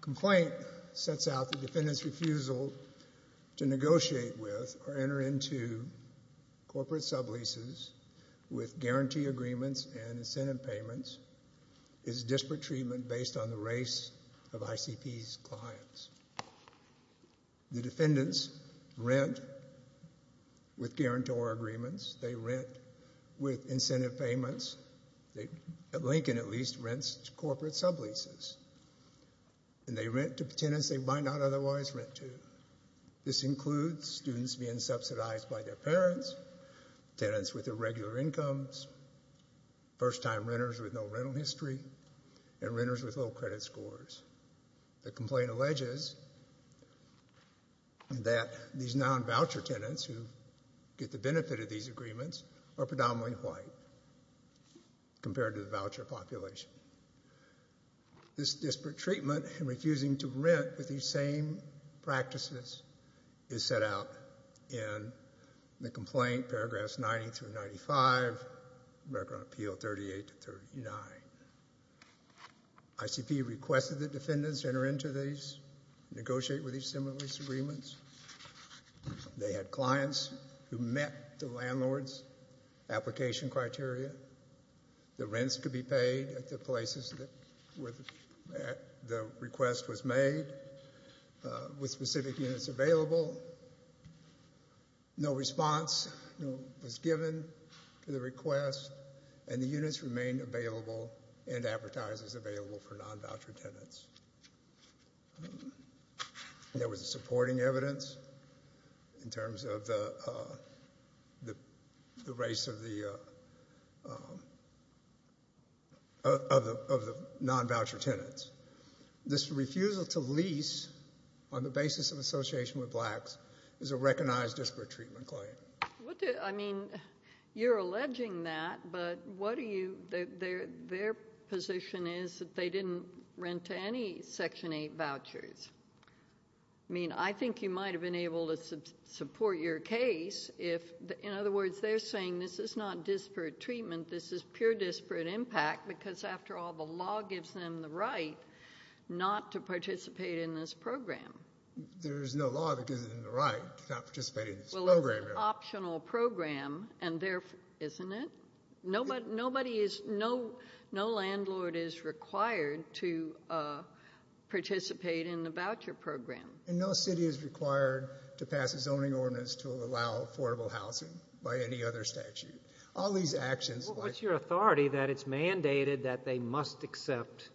Complaint Sets Out the Defendant's Refusal to Negotiate with or Enter into Corporate Sub-Leases with Guarantee Agreements and Incentive Payments, is Disparate Treatment based on the race of ICP's clients. The defendants rent with guarantor agreements, they rent with incentive payments, Lincoln at least rents to corporate sub-leases, and they rent to tenants they might not otherwise rent to. This includes students being subsidized by their parents, tenants with irregular incomes, first-time renters with no rental history, and renters with low credit scores. The complaint alleges that these non-voucher tenants who get the benefit of these agreements are predominantly white compared to the voucher population. This disparate treatment and refusing to rent with these same practices is set out in the ICP requested that defendants enter into these, negotiate with these sub-lease agreements. They had clients who met the landlord's application criteria. The rents could be paid at the places where the request was made with specific units available. No response was given to the request and the units remained available and advertised as available for non-voucher tenants. There was supporting evidence in terms of the race of the non-voucher tenants. This refusal to lease on the basis of association with blacks is a recognized disparate treatment claim. I mean, you're alleging that, but what are you, their position is that they didn't rent to any Section 8 vouchers. I mean, I think you might have been able to support your case if, in other words, they're saying this is not disparate treatment, this is pure disparate impact because after all, the law gives them the right not to participate in this program. There's no law that gives them the right to not participate in this program. Well, it's an optional program and therefore, isn't it? Nobody is, no landlord is required to participate in the voucher program. And no city is required to pass a zoning ordinance to allow affordable housing by any other statute. All these actions... What's your authority that it's mandated that they must accept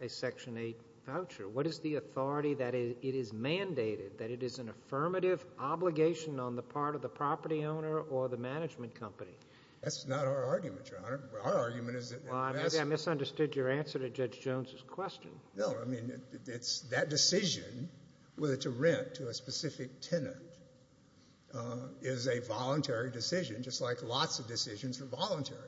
a Section 8 voucher? What is the authority that it is mandated, that it is an affirmative obligation on the part of the property owner or the management company? That's not our argument, Your Honor. Our argument is that... Well, maybe I misunderstood your answer to Judge Jones's question. No, I mean, it's that decision whether to rent to a specific tenant is a voluntary decision, just like lots of decisions are voluntary.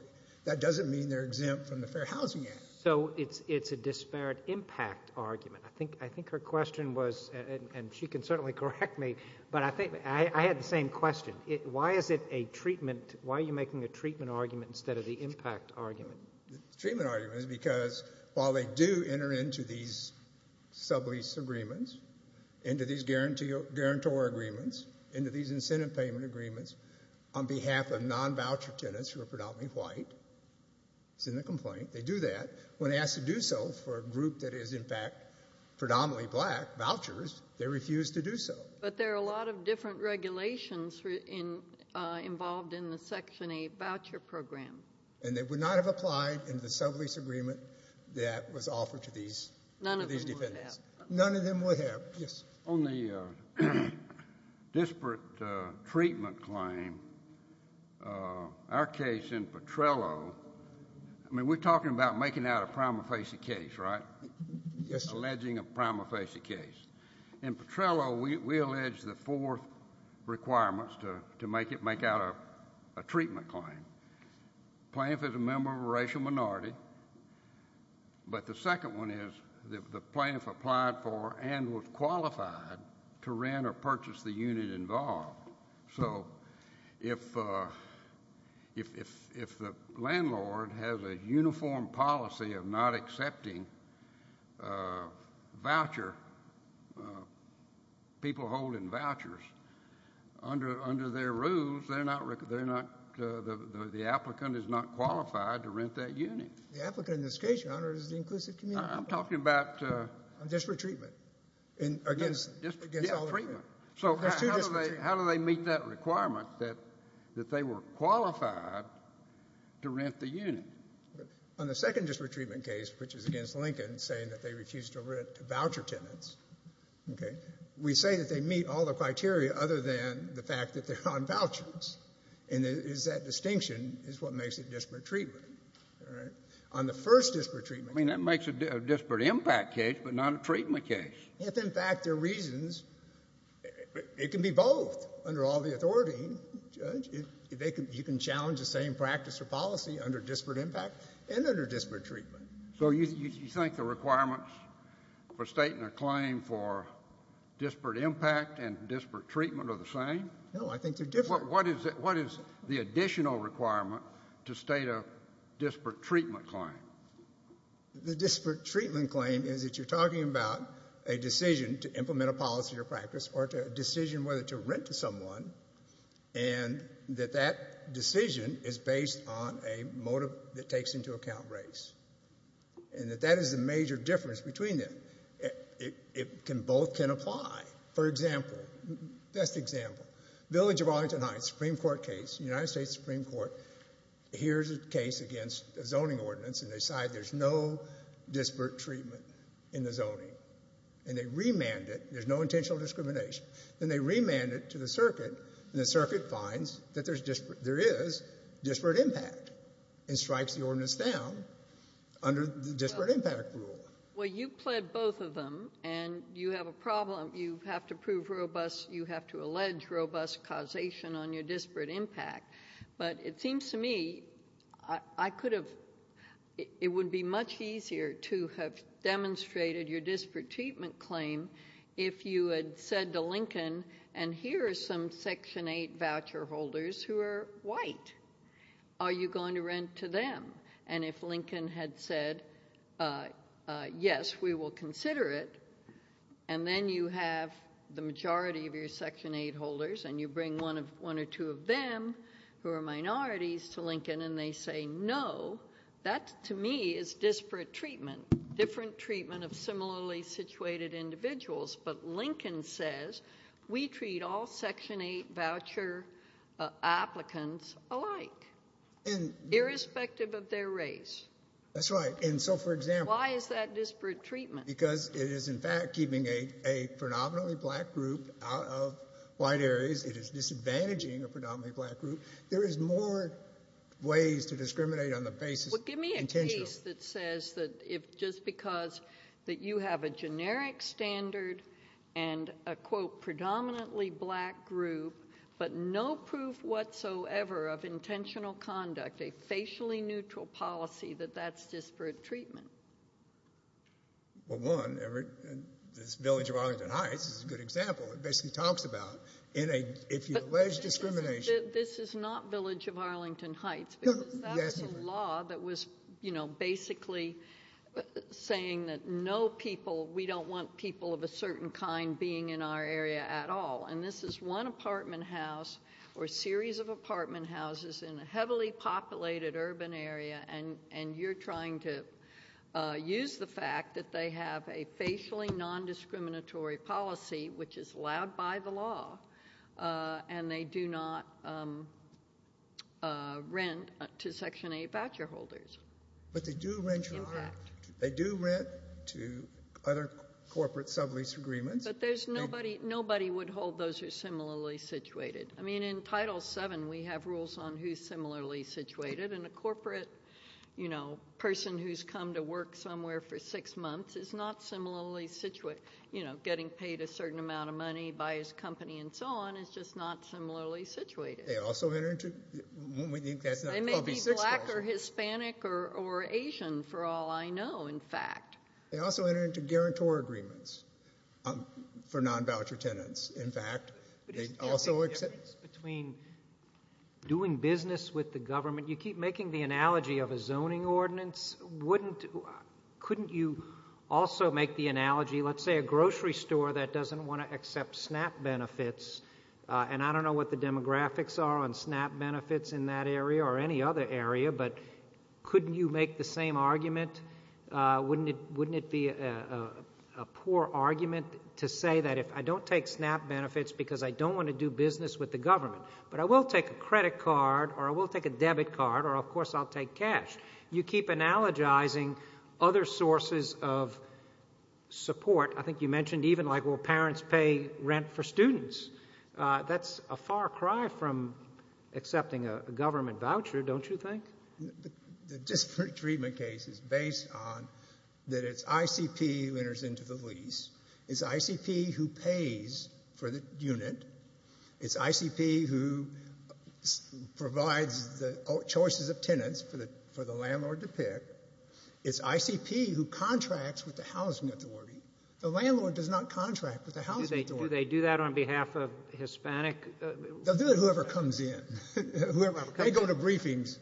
That doesn't mean they're exempt from the Fair Housing Act. So it's a disparate impact argument. I think her question was, and she can certainly correct me, but I think I had the same question. Why is it a treatment, why are you making a treatment argument instead of the impact argument? The treatment argument is because while they do enter into these sublease agreements, into these guarantor agreements, into these incentive payment agreements on behalf of when asked to do so for a group that is, in fact, predominantly black vouchers, they refuse to do so. But there are a lot of different regulations involved in the Section 8 voucher program. And they would not have applied in the sublease agreement that was offered to these defendants. None of them would have. None of them would have. Yes. On the disparate treatment claim, our case in Petrello, I mean, we're talking about making out a prima facie case, right? Yes. Alleging a prima facie case. In Petrello, we allege the four requirements to make it, make out a treatment claim. Plaintiff is a member of a racial minority, but the second one is the plaintiff applied for and was qualified to rent or purchase the unit involved. So if the landlord has a uniform policy of not accepting voucher, people holding vouchers, under their rules, they're not, the applicant is not qualified to rent that unit. The applicant in this case, Your Honor, is the inclusive community. I'm talking about disparate treatment. Against all of them. So how do they meet that requirement that they were qualified to rent the unit? On the second disparate treatment case, which is against Lincoln, saying that they refused to rent to voucher tenants, we say that they meet all the criteria other than the fact that they're on vouchers. And it is that distinction is what makes it disparate treatment. On the first disparate treatment case. I mean, that makes it a disparate impact case, but not a treatment case. If in fact there are reasons, it can be both. Under all the authority, Judge, you can challenge the same practice or policy under disparate impact and under disparate treatment. So you think the requirements for stating a claim for disparate impact and disparate treatment are the same? No, I think they're different. What is the additional requirement to state a disparate treatment claim? The disparate treatment claim is that you're talking about a decision to implement a policy or practice or a decision whether to rent to someone and that that decision is based on a motive that takes into account race. And that that is the major difference between them. It can both can apply. For example, best example, Village of Arlington Heights, Supreme Court case, United States Supreme Court hears a case against a zoning ordinance and they decide there's no disparate treatment in the zoning and they remand it. There's no intentional discrimination. Then they remand it to the circuit and the circuit finds that there is disparate impact and strikes the ordinance down under the disparate impact rule. Well, you pled both of them and you have a problem. You have to prove robust. You have to allege robust causation on your disparate impact. But it seems to me I could have, it would be much easier to have demonstrated your disparate treatment claim if you had said to Lincoln, and here are some Section 8 voucher holders who are white. Are you going to rent to them? And if Lincoln had said, yes, we will consider it. And then you have the majority of your Section 8 holders and you bring one of one or two of them who are minorities to Lincoln and they say, no, that to me is disparate treatment, different treatment of similarly situated individuals. But Lincoln says, we treat all Section 8 voucher applicants alike, irrespective of their race. That's right. And so, for example, Why is that disparate treatment? Because it is, in fact, keeping a predominantly black group out of white areas. It is disadvantaging a predominantly black group. There is more ways to discriminate on the basis. Well, give me a case that says that if just because that you have a generic standard and a quote, predominantly black group, but no proof whatsoever of intentional conduct, a facially neutral policy, that that's disparate treatment. Well, one, this Village of Arlington Heights is a good example. It basically talks about, if you allege discrimination. But this is not Village of Arlington Heights. No, yes. Because that's a law that was basically saying that no people, we don't want people of a certain kind being in our area at all. And this is one apartment house or a series of apartment houses in a heavily populated urban area. And you're trying to use the fact that they have a facially non-discriminatory policy, which is allowed by the law, and they do not rent to Section 8 voucher holders. But they do rent to other corporate sublease agreements. But there's nobody, nobody would hold those who are similarly situated. I mean, in Title VII, we have rules on who's similarly situated. And a corporate, you know, person who's come to work somewhere for six months is not similarly situated. You know, getting paid a certain amount of money, buy his company, and so on, is just not similarly situated. They also enter into... They may be black or Hispanic or Asian, for all I know, in fact. They also enter into guarantor agreements for non-voucher tenants. In fact, they also... Between doing business with the government, you keep making the analogy of a zoning ordinance. Couldn't you also make the analogy, let's say, a grocery store that doesn't want to accept SNAP benefits? And I don't know what the demographics are on SNAP benefits in that area or any other area, but couldn't you make the same argument? Wouldn't it be a poor argument to say that if I don't take SNAP benefits because I don't want to do business with the government, but I will take a credit card or I will take a debit card, or, of course, I'll take cash? You keep analogizing other sources of support. I think you mentioned even, like, will parents pay rent for students? That's a far cry from accepting a government voucher, don't you think? The disparate treatment case is based on that it's ICP who enters into the lease. It's ICP who pays for the unit. It's ICP who provides the choices of tenants for the landlord to pick. It's ICP who contracts with the housing authority. The landlord does not contract with the housing authority. Do they do that on behalf of Hispanic... They'll do it whoever comes in. They go to briefings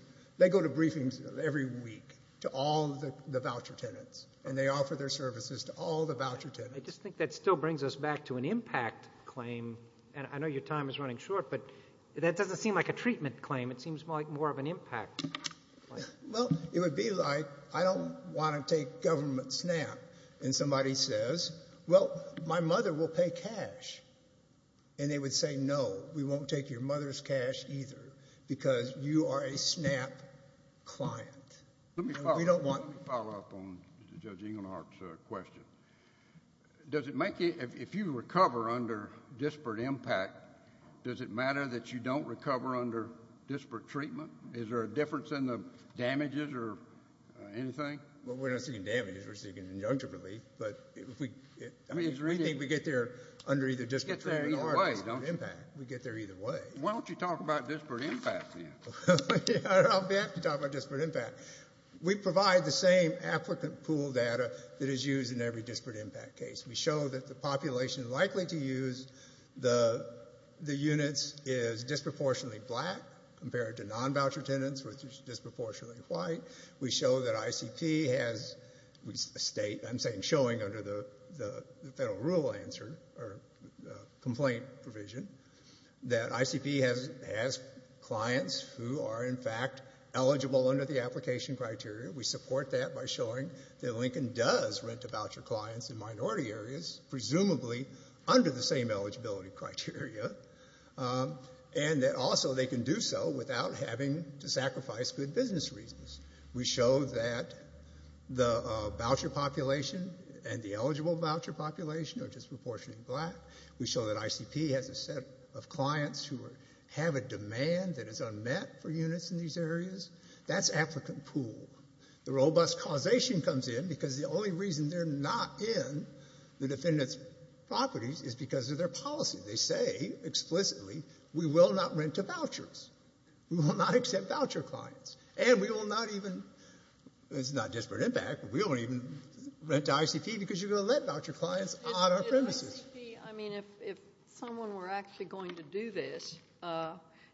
every week to all the voucher tenants, and they offer their services to all the voucher tenants. I just think that still brings us back to an impact claim, and I know your time is running short, but that doesn't seem like a treatment claim. It seems like more of an impact claim. Well, it would be like I don't want to take government SNAP, and somebody says, well, my mother will pay cash. And they would say, no, we won't take your mother's cash either because you are a SNAP client. Let me follow up on Judge Engelhardt's question. If you recover under disparate impact, does it matter that you don't recover under disparate treatment? Is there a difference in the damages or anything? Well, we're not seeking damages. We're seeking injunctive relief. But we think we get there under either disparate treatment or disparate impact. We get there either way. Why don't you talk about disparate impact then? I'll be happy to talk about disparate impact. We provide the same applicant pool data that is used in every disparate impact case. We show that the population likely to use the units is disproportionately black compared to non-voucher tenants, which is disproportionately white. We show that ICP has a state. I'm saying showing under the federal rule answer or complaint provision that ICP has clients who are, in fact, eligible under the application criteria. We support that by showing that Lincoln does rent to voucher clients in minority areas, presumably under the same eligibility criteria, and that also they can do so without having to sacrifice good business reasons. We show that the voucher population and the eligible voucher population are disproportionately black. We show that ICP has a set of clients who have a demand that is unmet for units in these areas. That's applicant pool. The robust causation comes in because the only reason they're not in the defendant's properties is because of their policy. They say explicitly, we will not rent to vouchers. We will not accept voucher clients. And we will not even, it's not disparate impact, but we won't even rent to ICP because you're going to let voucher clients on our premises. I mean, if someone were actually going to do this,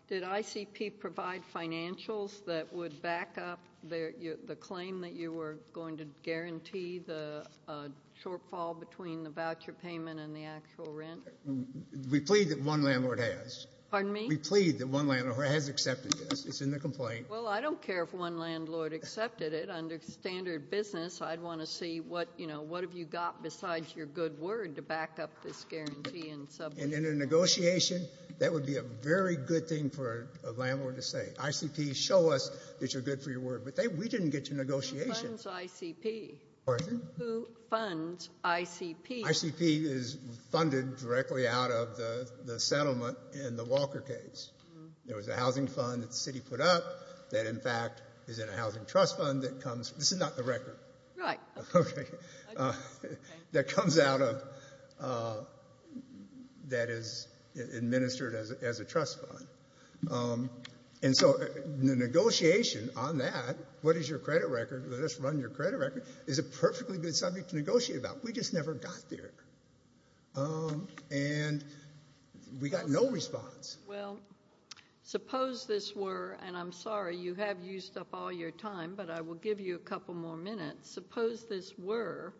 did ICP provide financials that would back up the claim that you were going to guarantee the shortfall between the voucher payment and the actual rent? We plead that one landlord has. Pardon me? We plead that one landlord has accepted this. It's in the complaint. Well, I don't care if one landlord accepted it. Under standard business, I'd want to see what, you know, what have you got besides your good word to back up this guarantee. And in a negotiation, that would be a very good thing for a landlord to say. ICP, show us that you're good for your word. But we didn't get to negotiation. Who funds ICP? ICP is funded directly out of the settlement in the Walker case. There was a housing fund that the city put up that, in fact, is in a housing trust fund that comes, this is not the record. Right. Okay. That comes out of, that is administered as a trust fund. And so the negotiation on that, what is your credit record, let us run your credit record, is a perfectly good subject to negotiate about. We just never got there. And we got no response. Well, suppose this were, and I'm sorry, you have used up all your time, but I will give you a couple more minutes. Suppose this were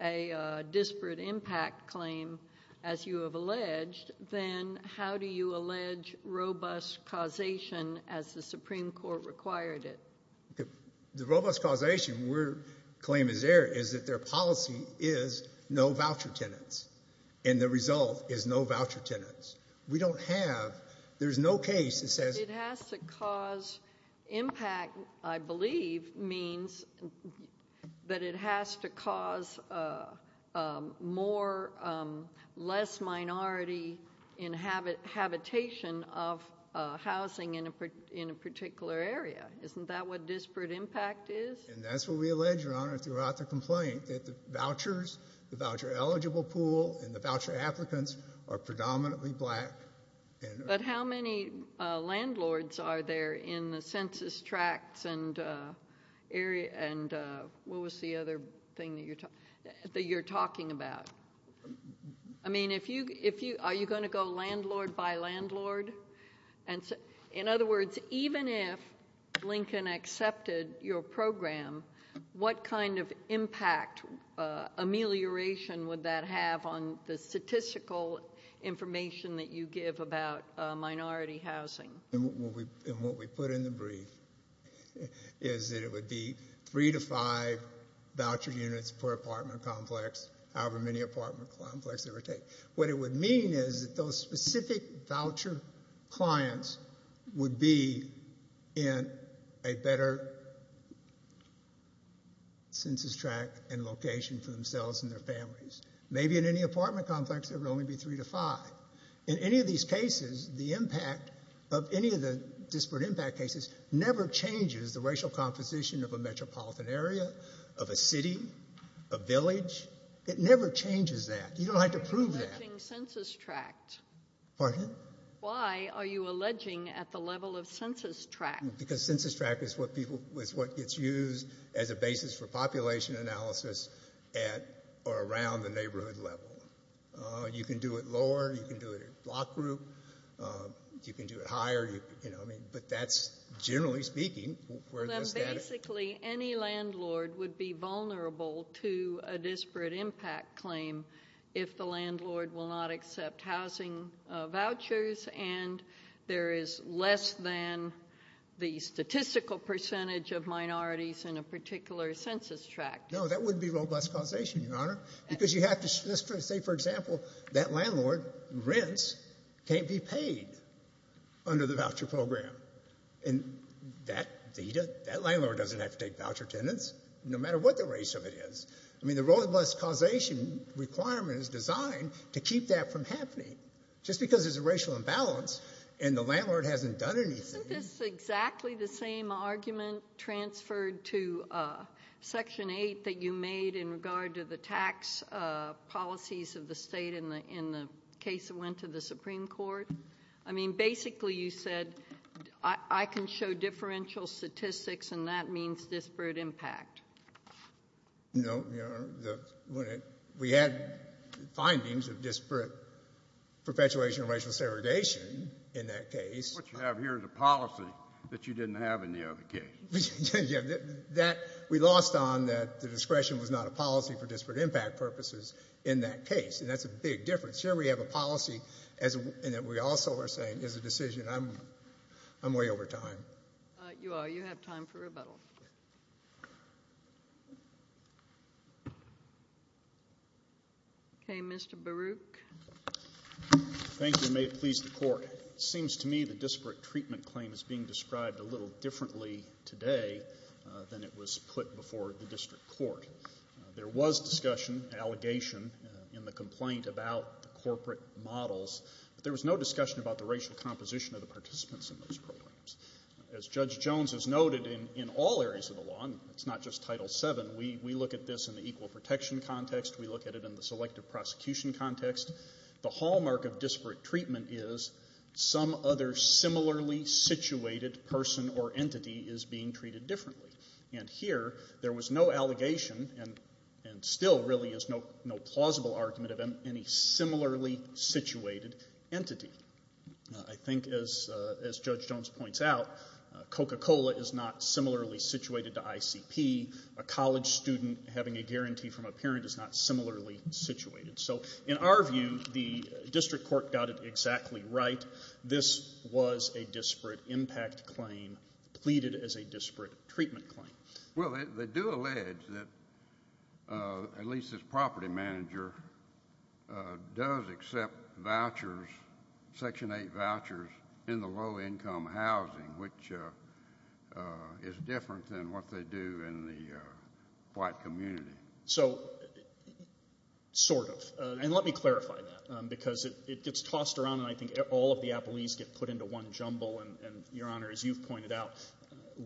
a disparate impact claim, as you have alleged, then how do you allege robust causation as the Supreme Court required it? The robust causation, where claim is there, is that their policy is no voucher tenants. And the result is no voucher tenants. We don't have, there's no case that says- It has to cause impact, I believe means that it has to cause more, less minority habitation of housing in a particular area. Isn't that what disparate impact is? And that's what we allege, Your Honor, throughout the complaint, that the vouchers, the voucher eligible pool, and the voucher applicants are predominantly black. But how many landlords are there in the census tracts and area, and what was the other thing that you're talking about? I mean, if you, are you going to go landlord by landlord? And in other words, even if Lincoln accepted your program, what kind of impact amelioration would that have on the statistical information that you give about minority housing? And what we put in the brief is that it would be three to five voucher units per apartment complex, however many apartment complex it would take. What it would mean is that those specific voucher clients would be in a better census tract and location for themselves and their families. Maybe in any apartment complex, there would only be three to five. In any of these cases, the impact of any of the disparate impact cases never changes the racial composition of a metropolitan area, of a city, a village. It never changes that. You don't have to prove that. You're alleging census tract. Pardon? Why are you alleging at the level of census tract? Because census tract is what people, is what gets used as a basis for population analysis at or around the neighborhood level. You can do it lower. You can do it in block group. You can do it higher, you know, I mean, but that's, generally speaking, where does that... Then basically, any landlord would be vulnerable to a disparate impact claim if the landlord will not accept housing vouchers and there is less than the statistical percentage of minorities in a particular census tract. No, that wouldn't be roadblock causation, Your Honor, because you have to, let's say, for example, that landlord rents can't be paid under the voucher program. And that landlord doesn't have to take voucher tenants, no matter what the race of it is. I mean, the roadblock causation requirement is designed to keep that from happening, just because there's a racial imbalance and the landlord hasn't done anything. Isn't this exactly the same argument transferred to Section 8 that you made in regard to the tax policies of the state in the case that went to the Supreme Court? I mean, basically, you said, I can show differential statistics and that means disparate impact. No, Your Honor, we had findings of disparate perpetuation of racial segregation in that case. What you have here is a policy that you didn't have in the other case. We lost on that the discretion was not a policy for disparate impact purposes in that case, and that's a big difference. Here, we have a policy and that we also are saying is a decision. I'm way over time. You are. You have time for rebuttal. Okay, Mr. Baruch. Thank you, and may it please the Court. It seems to me the disparate treatment claim is being described a little differently today than it was put before the district court. There was discussion, allegation, in the complaint about the corporate models, but there was no discussion about the racial composition of the participants in those programs. As Judge Jones has noted in all areas of the law, and it's not just Title VII, we look at this in the equal protection context. We look at it in the selective prosecution context. The hallmark of disparate treatment is some other similarly situated person or entity is being treated differently, and here, there was no allegation and still really is no plausible argument of any similarly situated entity. I think as Judge Jones points out, Coca-Cola is not similarly situated to ICP. A college student having a guarantee from a parent is not similarly situated. So in our view, the district court got it exactly right. This was a disparate impact claim pleaded as a disparate treatment claim. Well, they do allege that at least this property manager does accept vouchers, Section 8 vouchers, in the low-income housing, which is different than what they do in the white community. So, sort of. And let me clarify that, because it gets tossed around, and I think all of the appellees get put into one jumble, and Your Honor, as you've pointed out,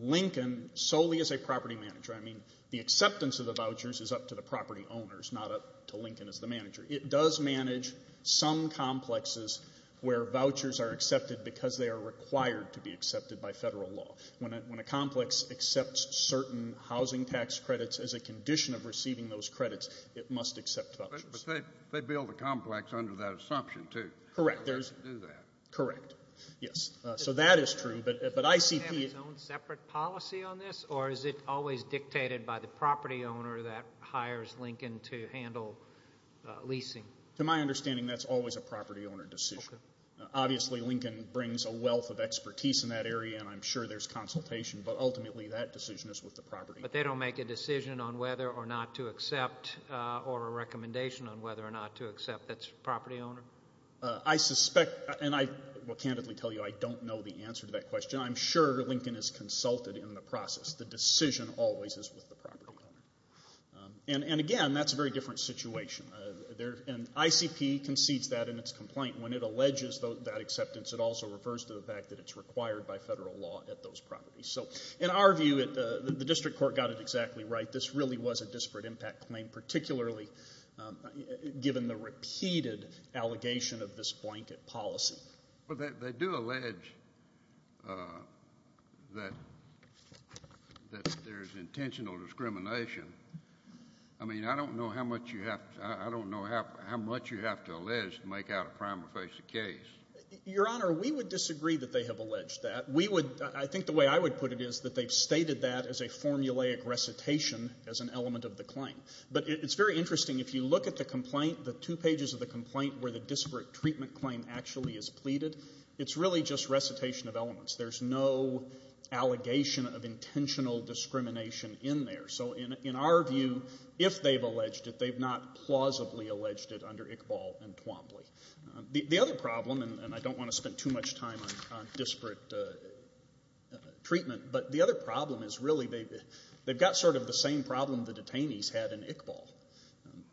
Lincoln solely is a property manager. I mean, the acceptance of the vouchers is up to the property owners, not up to Lincoln as the manager. It does manage some complexes where vouchers are accepted because they are required to be accepted by Federal law. When a complex accepts certain housing tax credits as a condition of receiving those credits, it must accept vouchers. But they build a complex under that assumption, too. Correct. They do that. Correct. Yes. So that is true. But ICP... Does he have his own separate policy on this, or is it always dictated by the property owner that hires Lincoln to handle leasing? To my understanding, that's always a property owner decision. Okay. Obviously, Lincoln brings a wealth of expertise in that area, and I'm sure there's consultation, but ultimately that decision is with the property owner. But they don't make a decision on whether or not to accept, or a recommendation on whether or not to accept its property owner? I suspect, and I will candidly tell you, I don't know the answer to that question. I'm sure Lincoln has consulted in the process. The decision always is with the property owner. And again, that's a very different situation. And ICP concedes that in its complaint. When it alleges that acceptance, it also refers to the fact that it's required by Federal law at those properties. So in our view, the district court got it exactly right. This really was a disparate impact claim, particularly given the repeated allegation of this blanket policy. But they do allege that there's intentional discrimination. I mean, I don't know how much you have to allege to make out a prima facie case. Your Honor, we would disagree that they have alleged that. We would — I think the way I would put it is that they've stated that as a formulaic recitation as an element of the claim. But it's very interesting. If you look at the complaint, the two pages of the complaint where the disparate treatment claim actually is pleaded, it's really just recitation of elements. There's no allegation of intentional discrimination in there. So in our view, if they've alleged it, they've not plausibly alleged it under Iqbal and Twombly. The other problem, and I don't want to spend too much time on disparate treatment, but the other problem is really they've got sort of the same problem the detainees had in Iqbal.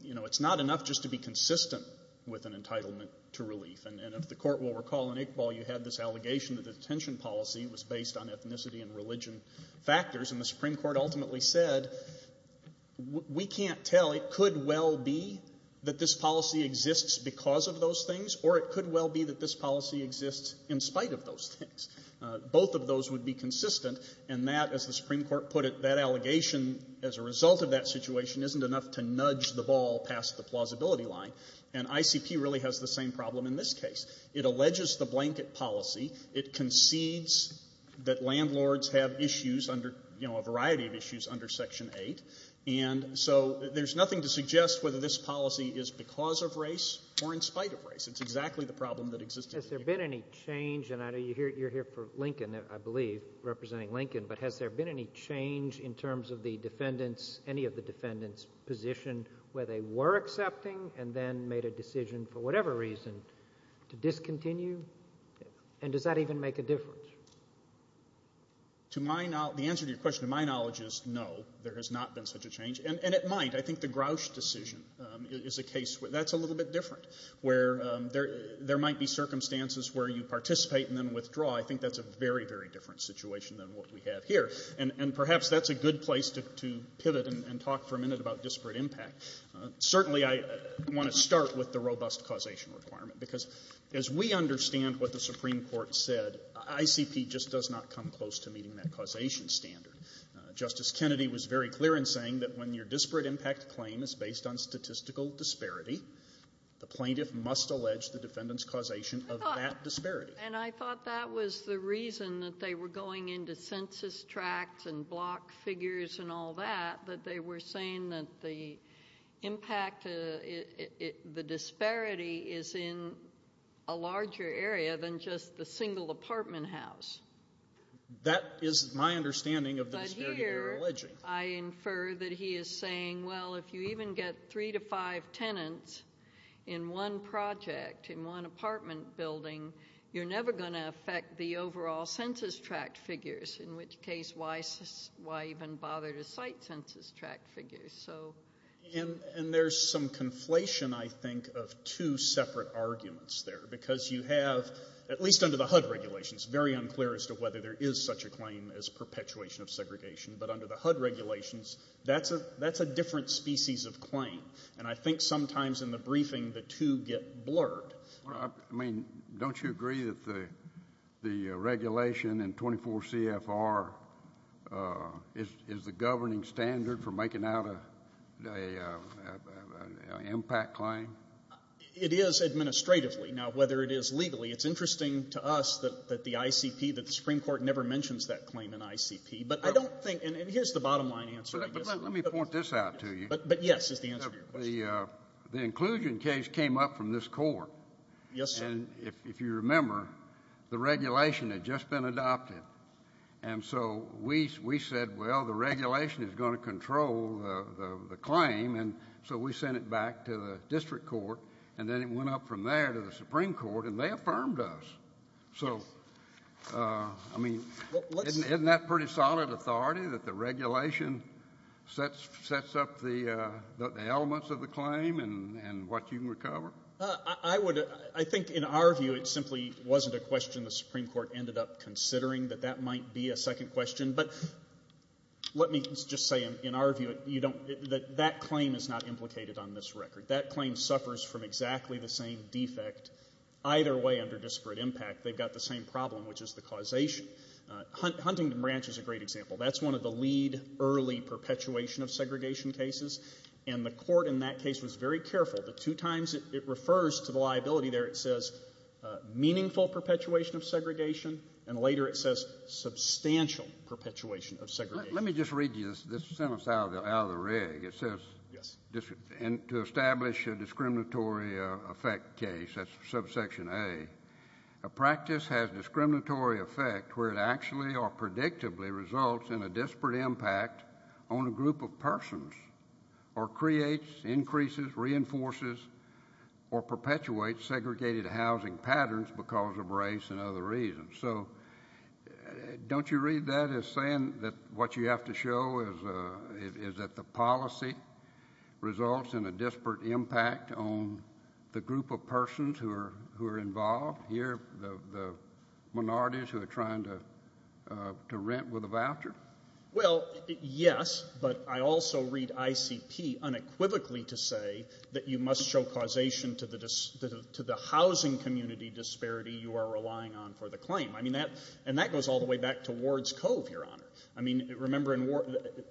You know, it's not enough just to be consistent with an entitlement to relief. And if the Court will recall, in Iqbal you had this allegation that the detention policy was based on ethnicity and religion factors. And the Supreme Court ultimately said, we can't tell. It could well be that this policy exists because of those things, or it could well be that this policy exists in spite of those things. Both of those would be consistent. And that, as the Supreme Court put it, that allegation as a result of that situation isn't enough to nudge the ball past the plausibility line. And ICP really has the same problem in this case. It alleges the blanket policy. It concedes that landlords have issues under, you know, a variety of issues under Section 8. And so there's nothing to suggest whether this policy is because of race or in spite of race. It's exactly the problem that exists. Has there been any change? And you're here for Lincoln, I believe, representing Lincoln. But has there been any change in terms of the defendants, any of the defendants' position where they were accepting and then made a decision for whatever reason to discontinue? And does that even make a difference? To my knowledge, the answer to your question, to my knowledge, is no, there has not been such a change. And it might. I think the Grouch decision is a case where that's a little bit different, where there might be circumstances where you participate and then withdraw. I think that's a very, very different situation than what we have here. And perhaps that's a good place to pivot and talk for a minute about disparate impact. Certainly, I want to start with the robust causation requirement, because as we understand what the Supreme Court said, ICP just does not come close to meeting that causation standard. Justice Kennedy was very clear in saying that when your disparate impact claim is based on statistical disparity, the plaintiff must allege the defendant's causation of that disparity. And I thought that was the reason that they were going into census tracts and block figures and all that, that they were saying that the impact, the disparity is in a larger area than just the single apartment house. That is my understanding of the disparity you're alleging. I infer that he is saying, well, if you even get three to five tenants in one project, in one apartment building, you're never going to affect the overall census tract figures. In which case, why even bother to cite census tract figures? And there's some conflation, I think, of two separate arguments there. Because you have, at least under the HUD regulations, it's very unclear as to whether there is such a claim as perpetuation of segregation. But under the HUD regulations, that's a different species of claim. And I think sometimes in the briefing, the two get blurred. Well, I mean, don't you agree that the regulation in 24 CFR is the governing standard for making out an impact claim? It is administratively. Now, whether it is legally, it's interesting to us that the ICP, that the Supreme Court never mentions that claim in ICP. But I don't think — and here's the bottom-line answer. But let me point this out to you. But yes, is the answer to your question. The inclusion case came up from this court. Yes, sir. And if you remember, the regulation had just been adopted. And so we said, well, the regulation is going to control the claim. And so we sent it back to the district court. And then it went up from there to the Supreme Court. And they affirmed us. So, I mean, isn't that pretty solid authority, that the regulation sets up the elements of the claim and what you can recover? I would — I think, in our view, it simply wasn't a question the Supreme Court ended up considering, that that might be a second question. But let me just say, in our view, that that claim is not implicated on this record. That claim suffers from exactly the same defect. Either way, under disparate impact, they've got the same problem, which is the causation. Huntington Branch is a great example. That's one of the lead, early perpetuation of segregation cases. And the court in that case was very careful. The two times it refers to the liability there, it says meaningful perpetuation of segregation. And later it says substantial perpetuation of segregation. Let me just read you this sentence out of the rig. It says — Yes. — to establish a discriminatory effect case. That's subsection A. A practice has discriminatory effect where it actually or predictably results in a disparate impact on a group of persons or creates, increases, reinforces or perpetuates segregated housing patterns because of race and other reasons. So don't you read that as saying that what you have to show is that the policy results in a disparate impact on the group of persons who are involved here, the minorities who are trying to rent with a voucher? Well, yes. But I also read ICP unequivocally to say that you must show causation to the housing community disparity you are relying on for the claim. I mean, that — and that goes all the way back to Ward's Cove, Your Honor. I mean, remember —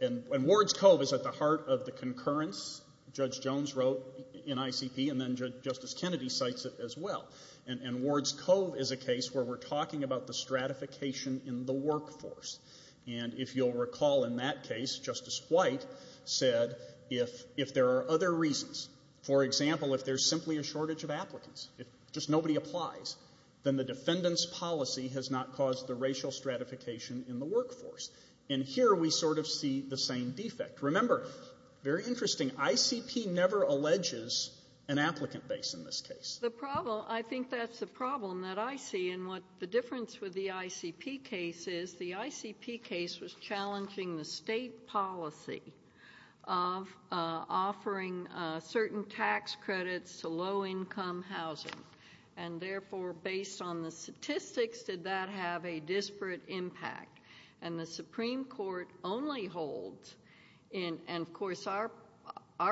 and Ward's Cove is at the heart of the concurrence, Judge Jones wrote in ICP, and then Justice Kennedy cites it as well. And Ward's Cove is a case where we're talking about the stratification in the workforce. And if you'll recall in that case, Justice White said if there are other reasons — for example, if there's simply a shortage of applicants, if just nobody applies, then the And here we sort of see the same defect. Remember, very interesting, ICP never alleges an applicant base in this case. The problem — I think that's the problem that I see in what the difference with the ICP case is, the ICP case was challenging the state policy of offering certain tax credits to low-income housing. And therefore, based on the statistics, did that have a disparate impact? And the Supreme Court only holds — and of course, our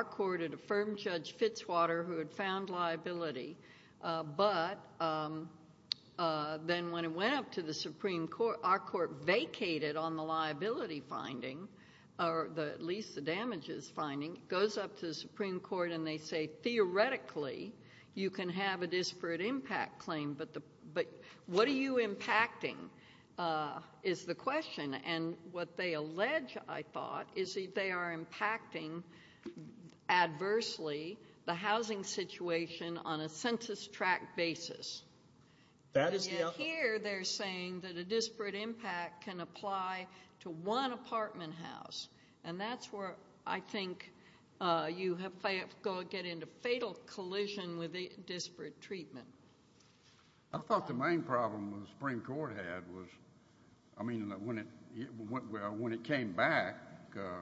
court had affirmed Judge Fitzwater, who had found liability, but then when it went up to the Supreme Court, our court vacated on the liability finding, or at least the damages finding. It goes up to the Supreme Court, and they say, theoretically, you can have a disparate impact claim. But what are you impacting, is the question. And what they allege, I thought, is that they are impacting adversely the housing situation on a census-track basis. And yet here, they're saying that a disparate impact can apply to one apartment house. And that's where I think you have to get into fatal collision with disparate treatment. I thought the main problem the Supreme Court had was — I mean, when it came back, there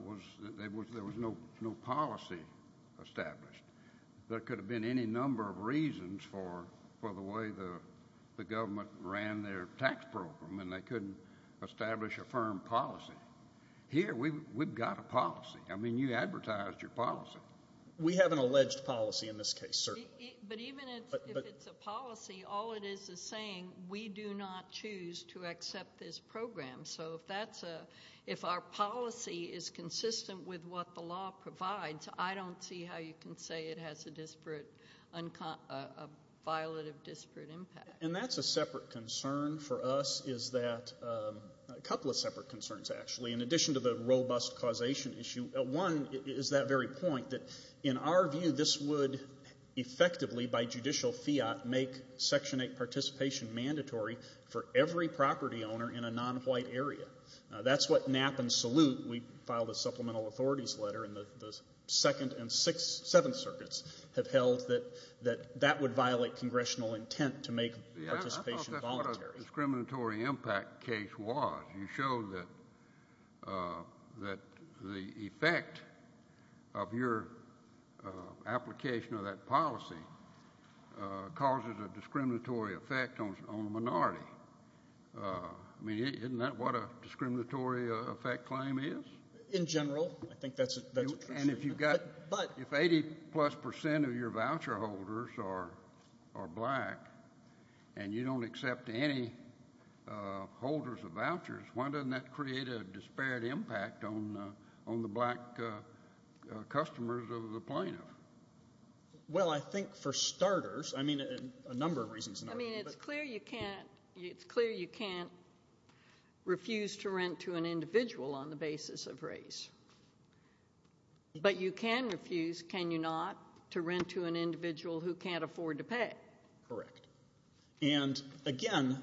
was no policy established. There could have been any number of reasons for the way the government ran their tax program, and they couldn't establish a firm policy. Here, we've got a policy. I mean, you advertised your policy. We have an alleged policy in this case, sir. But even if it's a policy, all it is is saying, we do not choose to accept this program. So if that's a — if our policy is consistent with what the law provides, I don't see how you can say it has a disparate — a violative disparate impact. And that's a separate concern for us, is that — a couple of separate concerns, actually, in addition to the robust causation issue. One is that very point, that in our view, this would effectively, by judicial fiat, make Section 8 participation mandatory for every property owner in a non-white area. That's what Knapp and Salute — we filed a supplemental authorities letter in the Second and Sixth — Seventh Circuits — have held, that that would violate congressional intent to make participation voluntary. I thought that's what a discriminatory impact case was. You showed that — that the effect of your application of that policy causes a discriminatory effect on a minority. I mean, isn't that what a discriminatory effect claim is? In general, I think that's a true statement. And if you've got — But — If 80-plus percent of your voucher holders are black, and you don't accept any holders of vouchers, why doesn't that create a disparate impact on the black customers of the plaintiff? Well, I think, for starters — I mean, a number of reasons. I mean, it's clear you can't — it's clear you can't refuse to rent to an individual on the basis of race. But you can refuse, can you not, to rent to an individual who can't afford to pay? Correct. And again,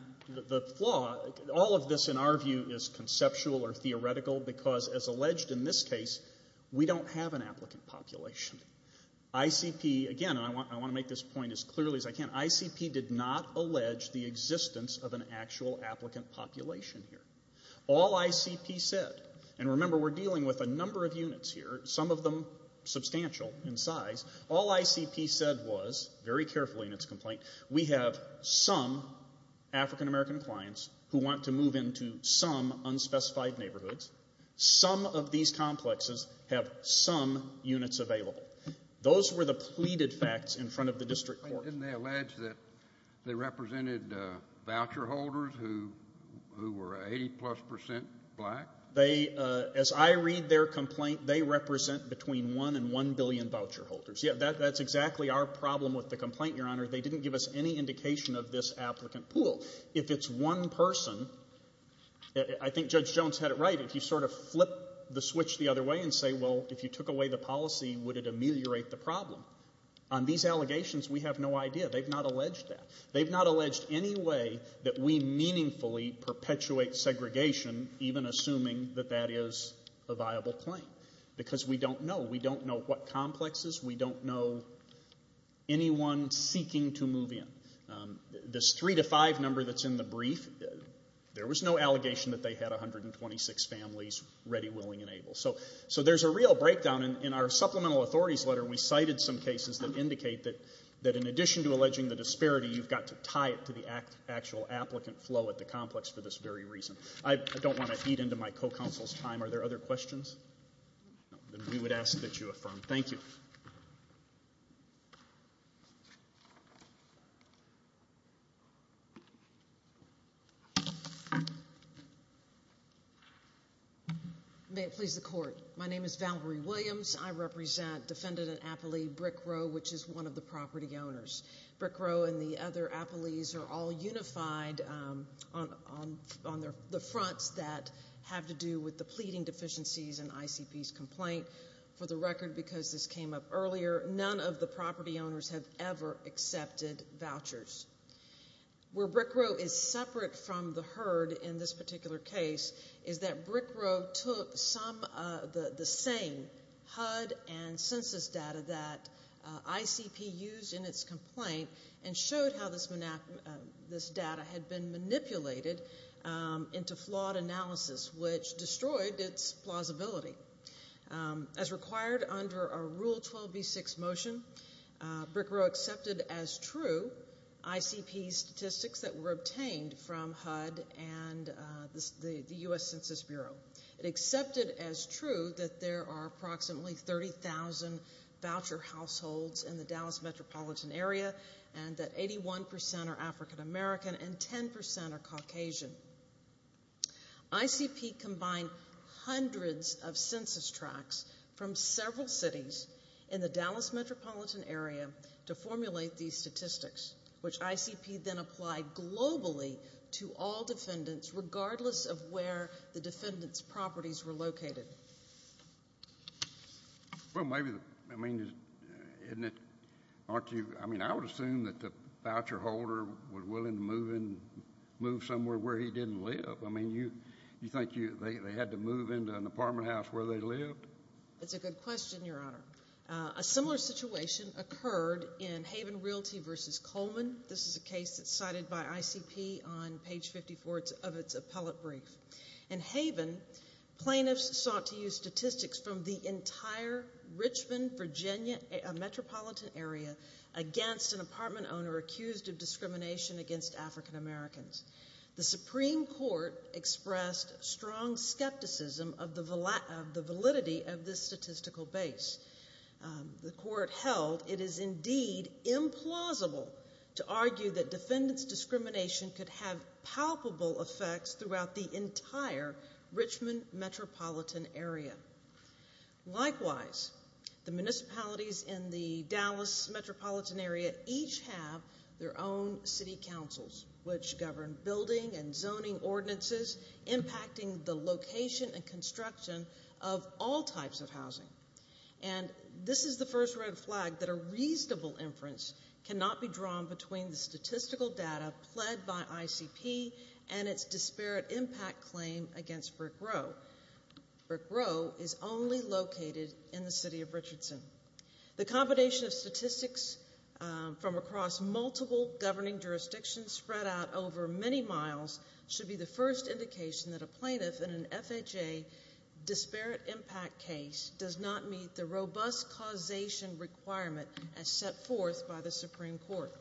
the flaw — all of this, in our view, is conceptual or theoretical because, as alleged in this case, we don't have an applicant population. ICP — again, I want to make this point as clearly as I can — ICP did not allege the existence of an actual applicant population here. All ICP said — and remember, we're dealing with a number of units here, some of them substantial in size — all ICP said was — very carefully in its complaint — we have some African-American clients who want to move into some unspecified neighborhoods. Some of these complexes have some units available. Those were the pleaded facts in front of the district court. Didn't they allege that they represented voucher holders who were 80-plus percent black? They — as I read their complaint, they represent between one and one billion voucher holders. Yeah, that's exactly our problem with the complaint, Your Honor. They didn't give us any indication of this applicant pool. If it's one person — I think Judge Jones had it right. If you sort of flip the switch the other way and say, well, if you took away the policy, would it ameliorate the problem? On these allegations, we have no idea. They've not alleged that. They've not alleged any way that we meaningfully perpetuate segregation, even assuming that that is a viable claim, because we don't know. We don't know what complexes. We don't know anyone seeking to move in. This three-to-five number that's in the brief, there was no allegation that they had 126 families ready, willing, and able. So there's a real breakdown. And in our supplemental authorities letter, we cited some cases that indicate that in addition to alleging the disparity, you've got to tie it to the actual applicant flow at the complex for this very reason. I don't want to eat into my co-counsel's time. Are there other questions? We would ask that you affirm. Thank you. May it please the Court. My name is Valerie Williams. I represent defendant and appellee Brick Row, which is one of the property owners. Brick Row and the other appellees are all unified on the fronts that have to do with earlier, none of the property owners have ever accepted vouchers. Where Brick Row is separate from the herd in this particular case is that Brick Row took some of the same HUD and census data that ICP used in its complaint and showed how this data had been manipulated into flawed analysis, which destroyed its plausibility. As required under a Rule 12b6 motion, Brick Row accepted as true ICP statistics that were obtained from HUD and the U.S. Census Bureau. It accepted as true that there are approximately 30,000 voucher households in the Dallas metropolitan area and that 81% are African American and 10% are Caucasian. ICP combined hundreds of census tracts from several cities in the Dallas metropolitan area to formulate these statistics, which ICP then applied globally to all defendants regardless of where the defendants' properties were located. Well, maybe, I mean, isn't it, aren't you, I mean, I would assume that the voucher holder was willing to move somewhere where he didn't live. I mean, you think they had to move into an apartment house where they lived? That's a good question, Your Honor. A similar situation occurred in Haven Realty v. Coleman. This is a case that's cited by ICP on page 54 of its appellate brief. In Haven, plaintiffs sought to use statistics from the entire Richmond, Virginia metropolitan area against an apartment owner accused of discrimination against African Americans. The Supreme Court expressed strong skepticism of the validity of this statistical base. The court held it is indeed implausible to argue that defendants' discrimination could have palpable effects throughout the entire Richmond metropolitan area. Likewise, the municipalities in the Dallas metropolitan area each have their own city councils, which govern building and zoning ordinances, impacting the location and construction of all types of housing. And this is the first red flag that a reasonable inference cannot be drawn between the statistical data pled by ICP and its disparate impact claim against Brick Row. Brick Row is only located in the city of Richardson. The combination of statistics from across multiple governing jurisdictions spread out over many miles should be the first indication that a plaintiff in an FHA disparate impact case does not meet the robust causation requirement as set forth by the Supreme Court.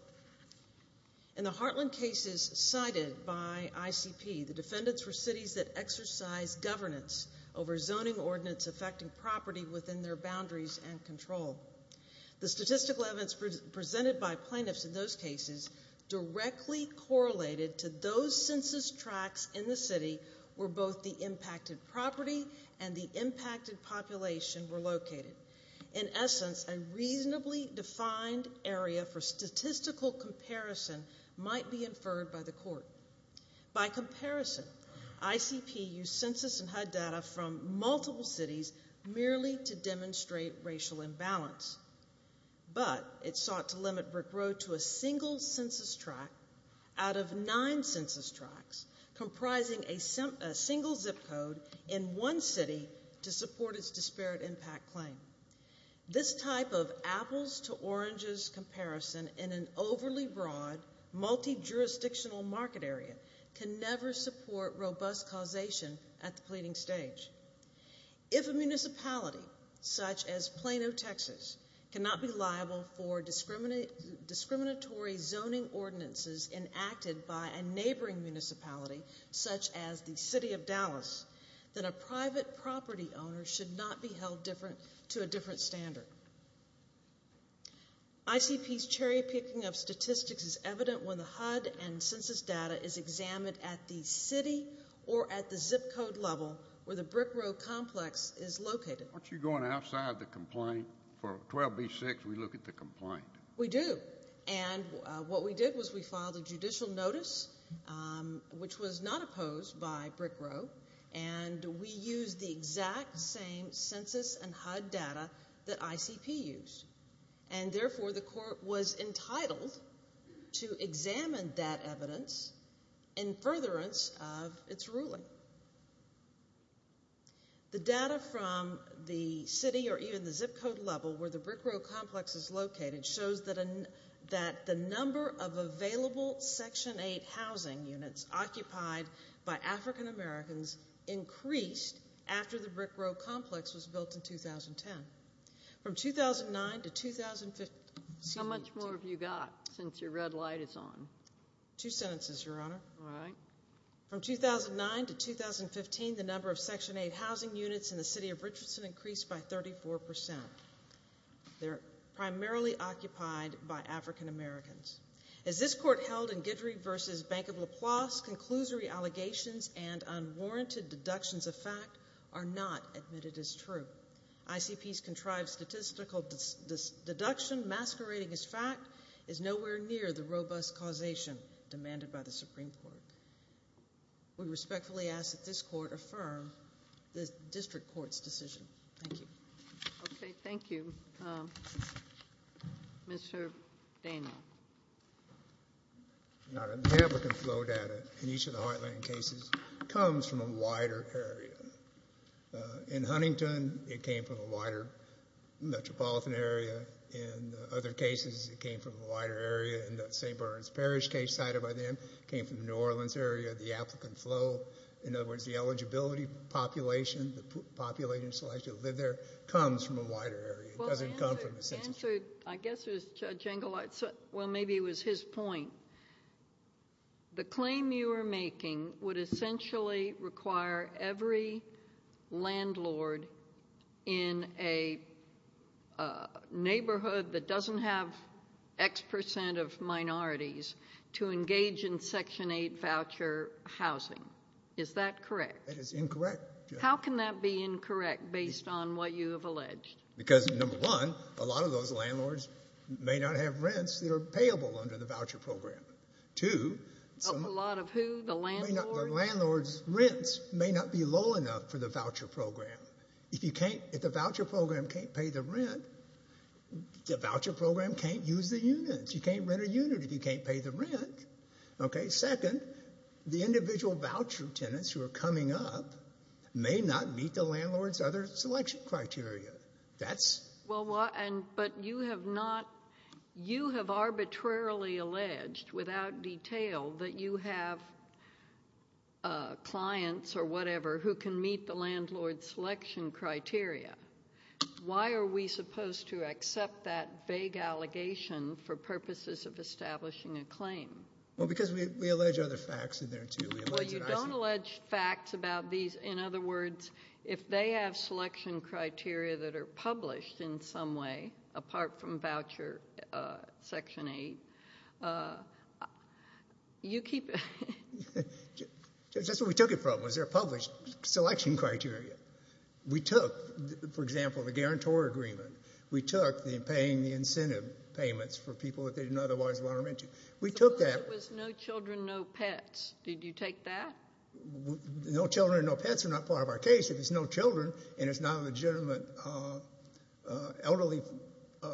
In the Heartland cases cited by ICP, the defendants were cities that exercised governance over zoning ordinance affecting property within their boundaries and control. The statistical evidence presented by plaintiffs in those cases directly correlated to those census tracts in the city where both the impacted property and the impacted population were located. In essence, a reasonably defined area for statistical comparison might be inferred by the court. By comparison, ICP used census and HUD data from multiple cities merely to demonstrate racial imbalance, but it sought to limit Brick Row to a single census tract out of nine census tracts comprising a single zip code in one city to support its disparate impact claim. This type of apples to oranges comparison in an overly broad multi-jurisdictional market area can never support robust causation at the pleading stage. If a municipality such as Plano, Texas cannot be liable for discriminatory zoning ordinances enacted by a neighboring municipality such as the city of Dallas, then a private property owner should not be held different to a different standard. ICP's cherry picking of statistics is evident when the HUD and census data is examined at the city or at the zip code level where the Brick Row complex is located. Aren't you going outside the complaint? For 12b6, we look at the complaint. We do, and what we did was we filed a judicial notice, which was not opposed by Brick Row, and we used the exact same census and HUD data that ICP used. And therefore, the court was entitled to examine that evidence in furtherance of its ruling. The data from the city or even the zip code level where the Brick Row complex is located shows that the number of available Section 8 housing units occupied by African Americans increased after the Brick Row complex was built in 2010. From 2009 to 2015, the number of Section 8 housing units in the city of Richardson increased by 34%. They're primarily occupied by African Americans. As this court held in Guidry v. Bank of LaPlace, conclusory allegations and unwarranted deductions of fact are not admitted as true. ICP's contrived statistical deduction masquerading as fact is nowhere near the robust causation demanded by the Supreme Court. We respectfully ask that this court affirm the district court's decision. Thank you. Okay, thank you. Mr. Daniel. Now, the applicant flow data in each of the Heartland cases comes from a wider area. In Huntington, it came from a wider metropolitan area. In other cases, it came from a wider area. In the St. Burns Parish case cited by them, it came from the New Orleans area. The applicant flow, in other words, the eligibility population, population selection, comes from a wider area. It doesn't come from a census area. I guess it was Judge Engelhardt's, well, maybe it was his point. The claim you are making would essentially require every landlord in a neighborhood that doesn't have X percent of minorities to engage in Section 8 voucher housing. Is that correct? That is incorrect. How can that be incorrect based on what you have alleged? Because, number one, a lot of those landlords may not have rents that are payable under the voucher program. Two, a lot of who? The landlord? Landlord's rents may not be low enough for the voucher program. If the voucher program can't pay the rent, the voucher program can't use the units. You can't rent a unit if you can't pay the rent, okay? Second, the individual voucher tenants who are coming up may not meet the landlord's other selection criteria. But you have arbitrarily alleged, without detail, that you have clients or whatever who can meet the landlord's selection criteria. Why are we supposed to accept that vague allegation for purposes of establishing a claim? Well, because we allege other facts in there, too. Well, you don't allege facts about these. In other words, if they have selection criteria that are published in some way, apart from voucher Section 8, you keep... That's where we took it from, was there are published selection criteria. We took, for example, the guarantor agreement. We took the paying the incentive payments for people that they didn't otherwise want to rent to. We took that. Suppose it was no children, no pets. Did you take that? No children and no pets are not part of our case. If it's no children and it's not a legitimate elderly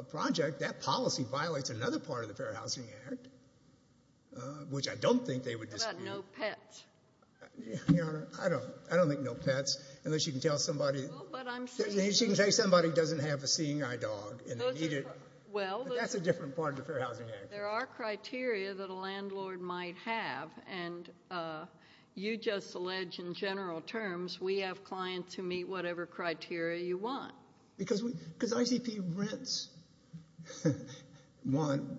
project, that policy violates another part of the Fair Housing Act, which I don't think they would dispute. What about no pets? Your Honor, I don't think no pets, unless you can tell somebody... Well, but I'm saying... She can say somebody doesn't have a seeing eye dog and they need it. Well... That's a different part of the Fair Housing Act. There are criteria that a landlord might have, and you just allege in general terms we have clients who meet whatever criteria you want. Because ICP rents. One,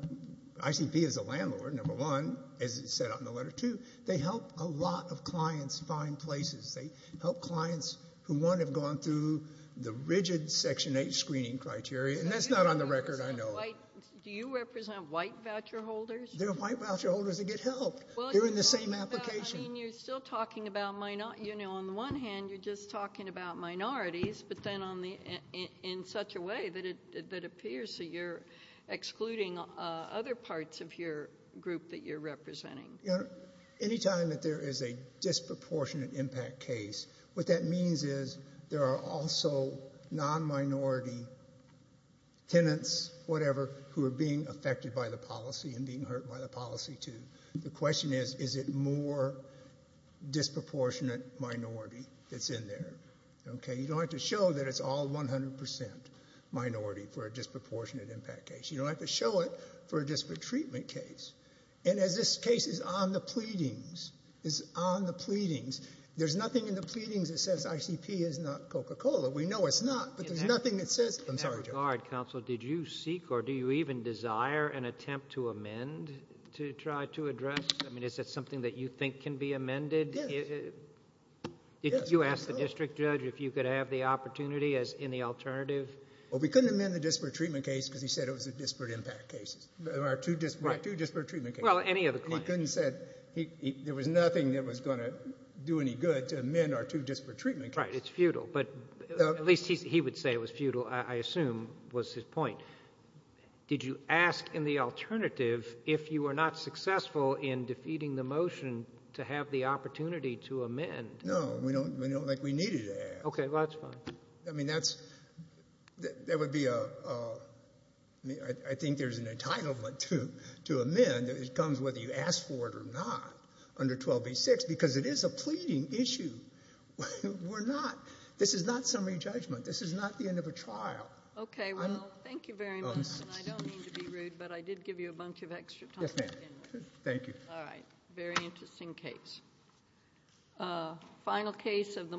ICP is a landlord, number one, as it's set out in the letter. Two, they help a lot of clients find places. They help clients who, one, have gone through the rigid Section 8 screening criteria, and that's not on the record, I know of. Do you represent white voucher holders? They're white voucher holders that get help. They're in the same application. I mean, you're still talking about, you know, on the one hand, you're just talking about minorities, but then in such a way that it appears that you're excluding other parts of your group that you're representing. Any time that there is a disproportionate impact case, what that means is there are also non-minority tenants, whatever, who are being affected by the policy and being hurt by the policy, too. The question is, is it more disproportionate minority that's in there? You don't have to show that it's all 100% minority for a disproportionate impact case. You don't have to show it for a disparate treatment case. And as this case is on the pleadings, it's on the pleadings, there's nothing in the In that regard, counsel, did you seek or do you even desire an attempt to amend to try to address? I mean, is that something that you think can be amended? Did you ask the district judge if you could have the opportunity as in the alternative? Well, we couldn't amend the disparate treatment case because he said it was a disparate impact case, our two disparate treatment cases. Well, any of the claims. He couldn't say there was nothing that was going to do any good to amend our two disparate treatment cases. It's futile. But at least he would say it was futile, I assume was his point. Did you ask in the alternative if you were not successful in defeating the motion to have the opportunity to amend? No, we don't think we needed to ask. OK, well, that's fine. I mean, that would be a, I think there's an entitlement to amend. It comes whether you ask for it or not under 1286 because it is a pleading issue. We're not. This is not summary judgment. This is not the end of a trial. OK, well, thank you very much. And I don't mean to be rude, but I did give you a bunch of extra time. Thank you. All right. Very interesting case. Final case of the.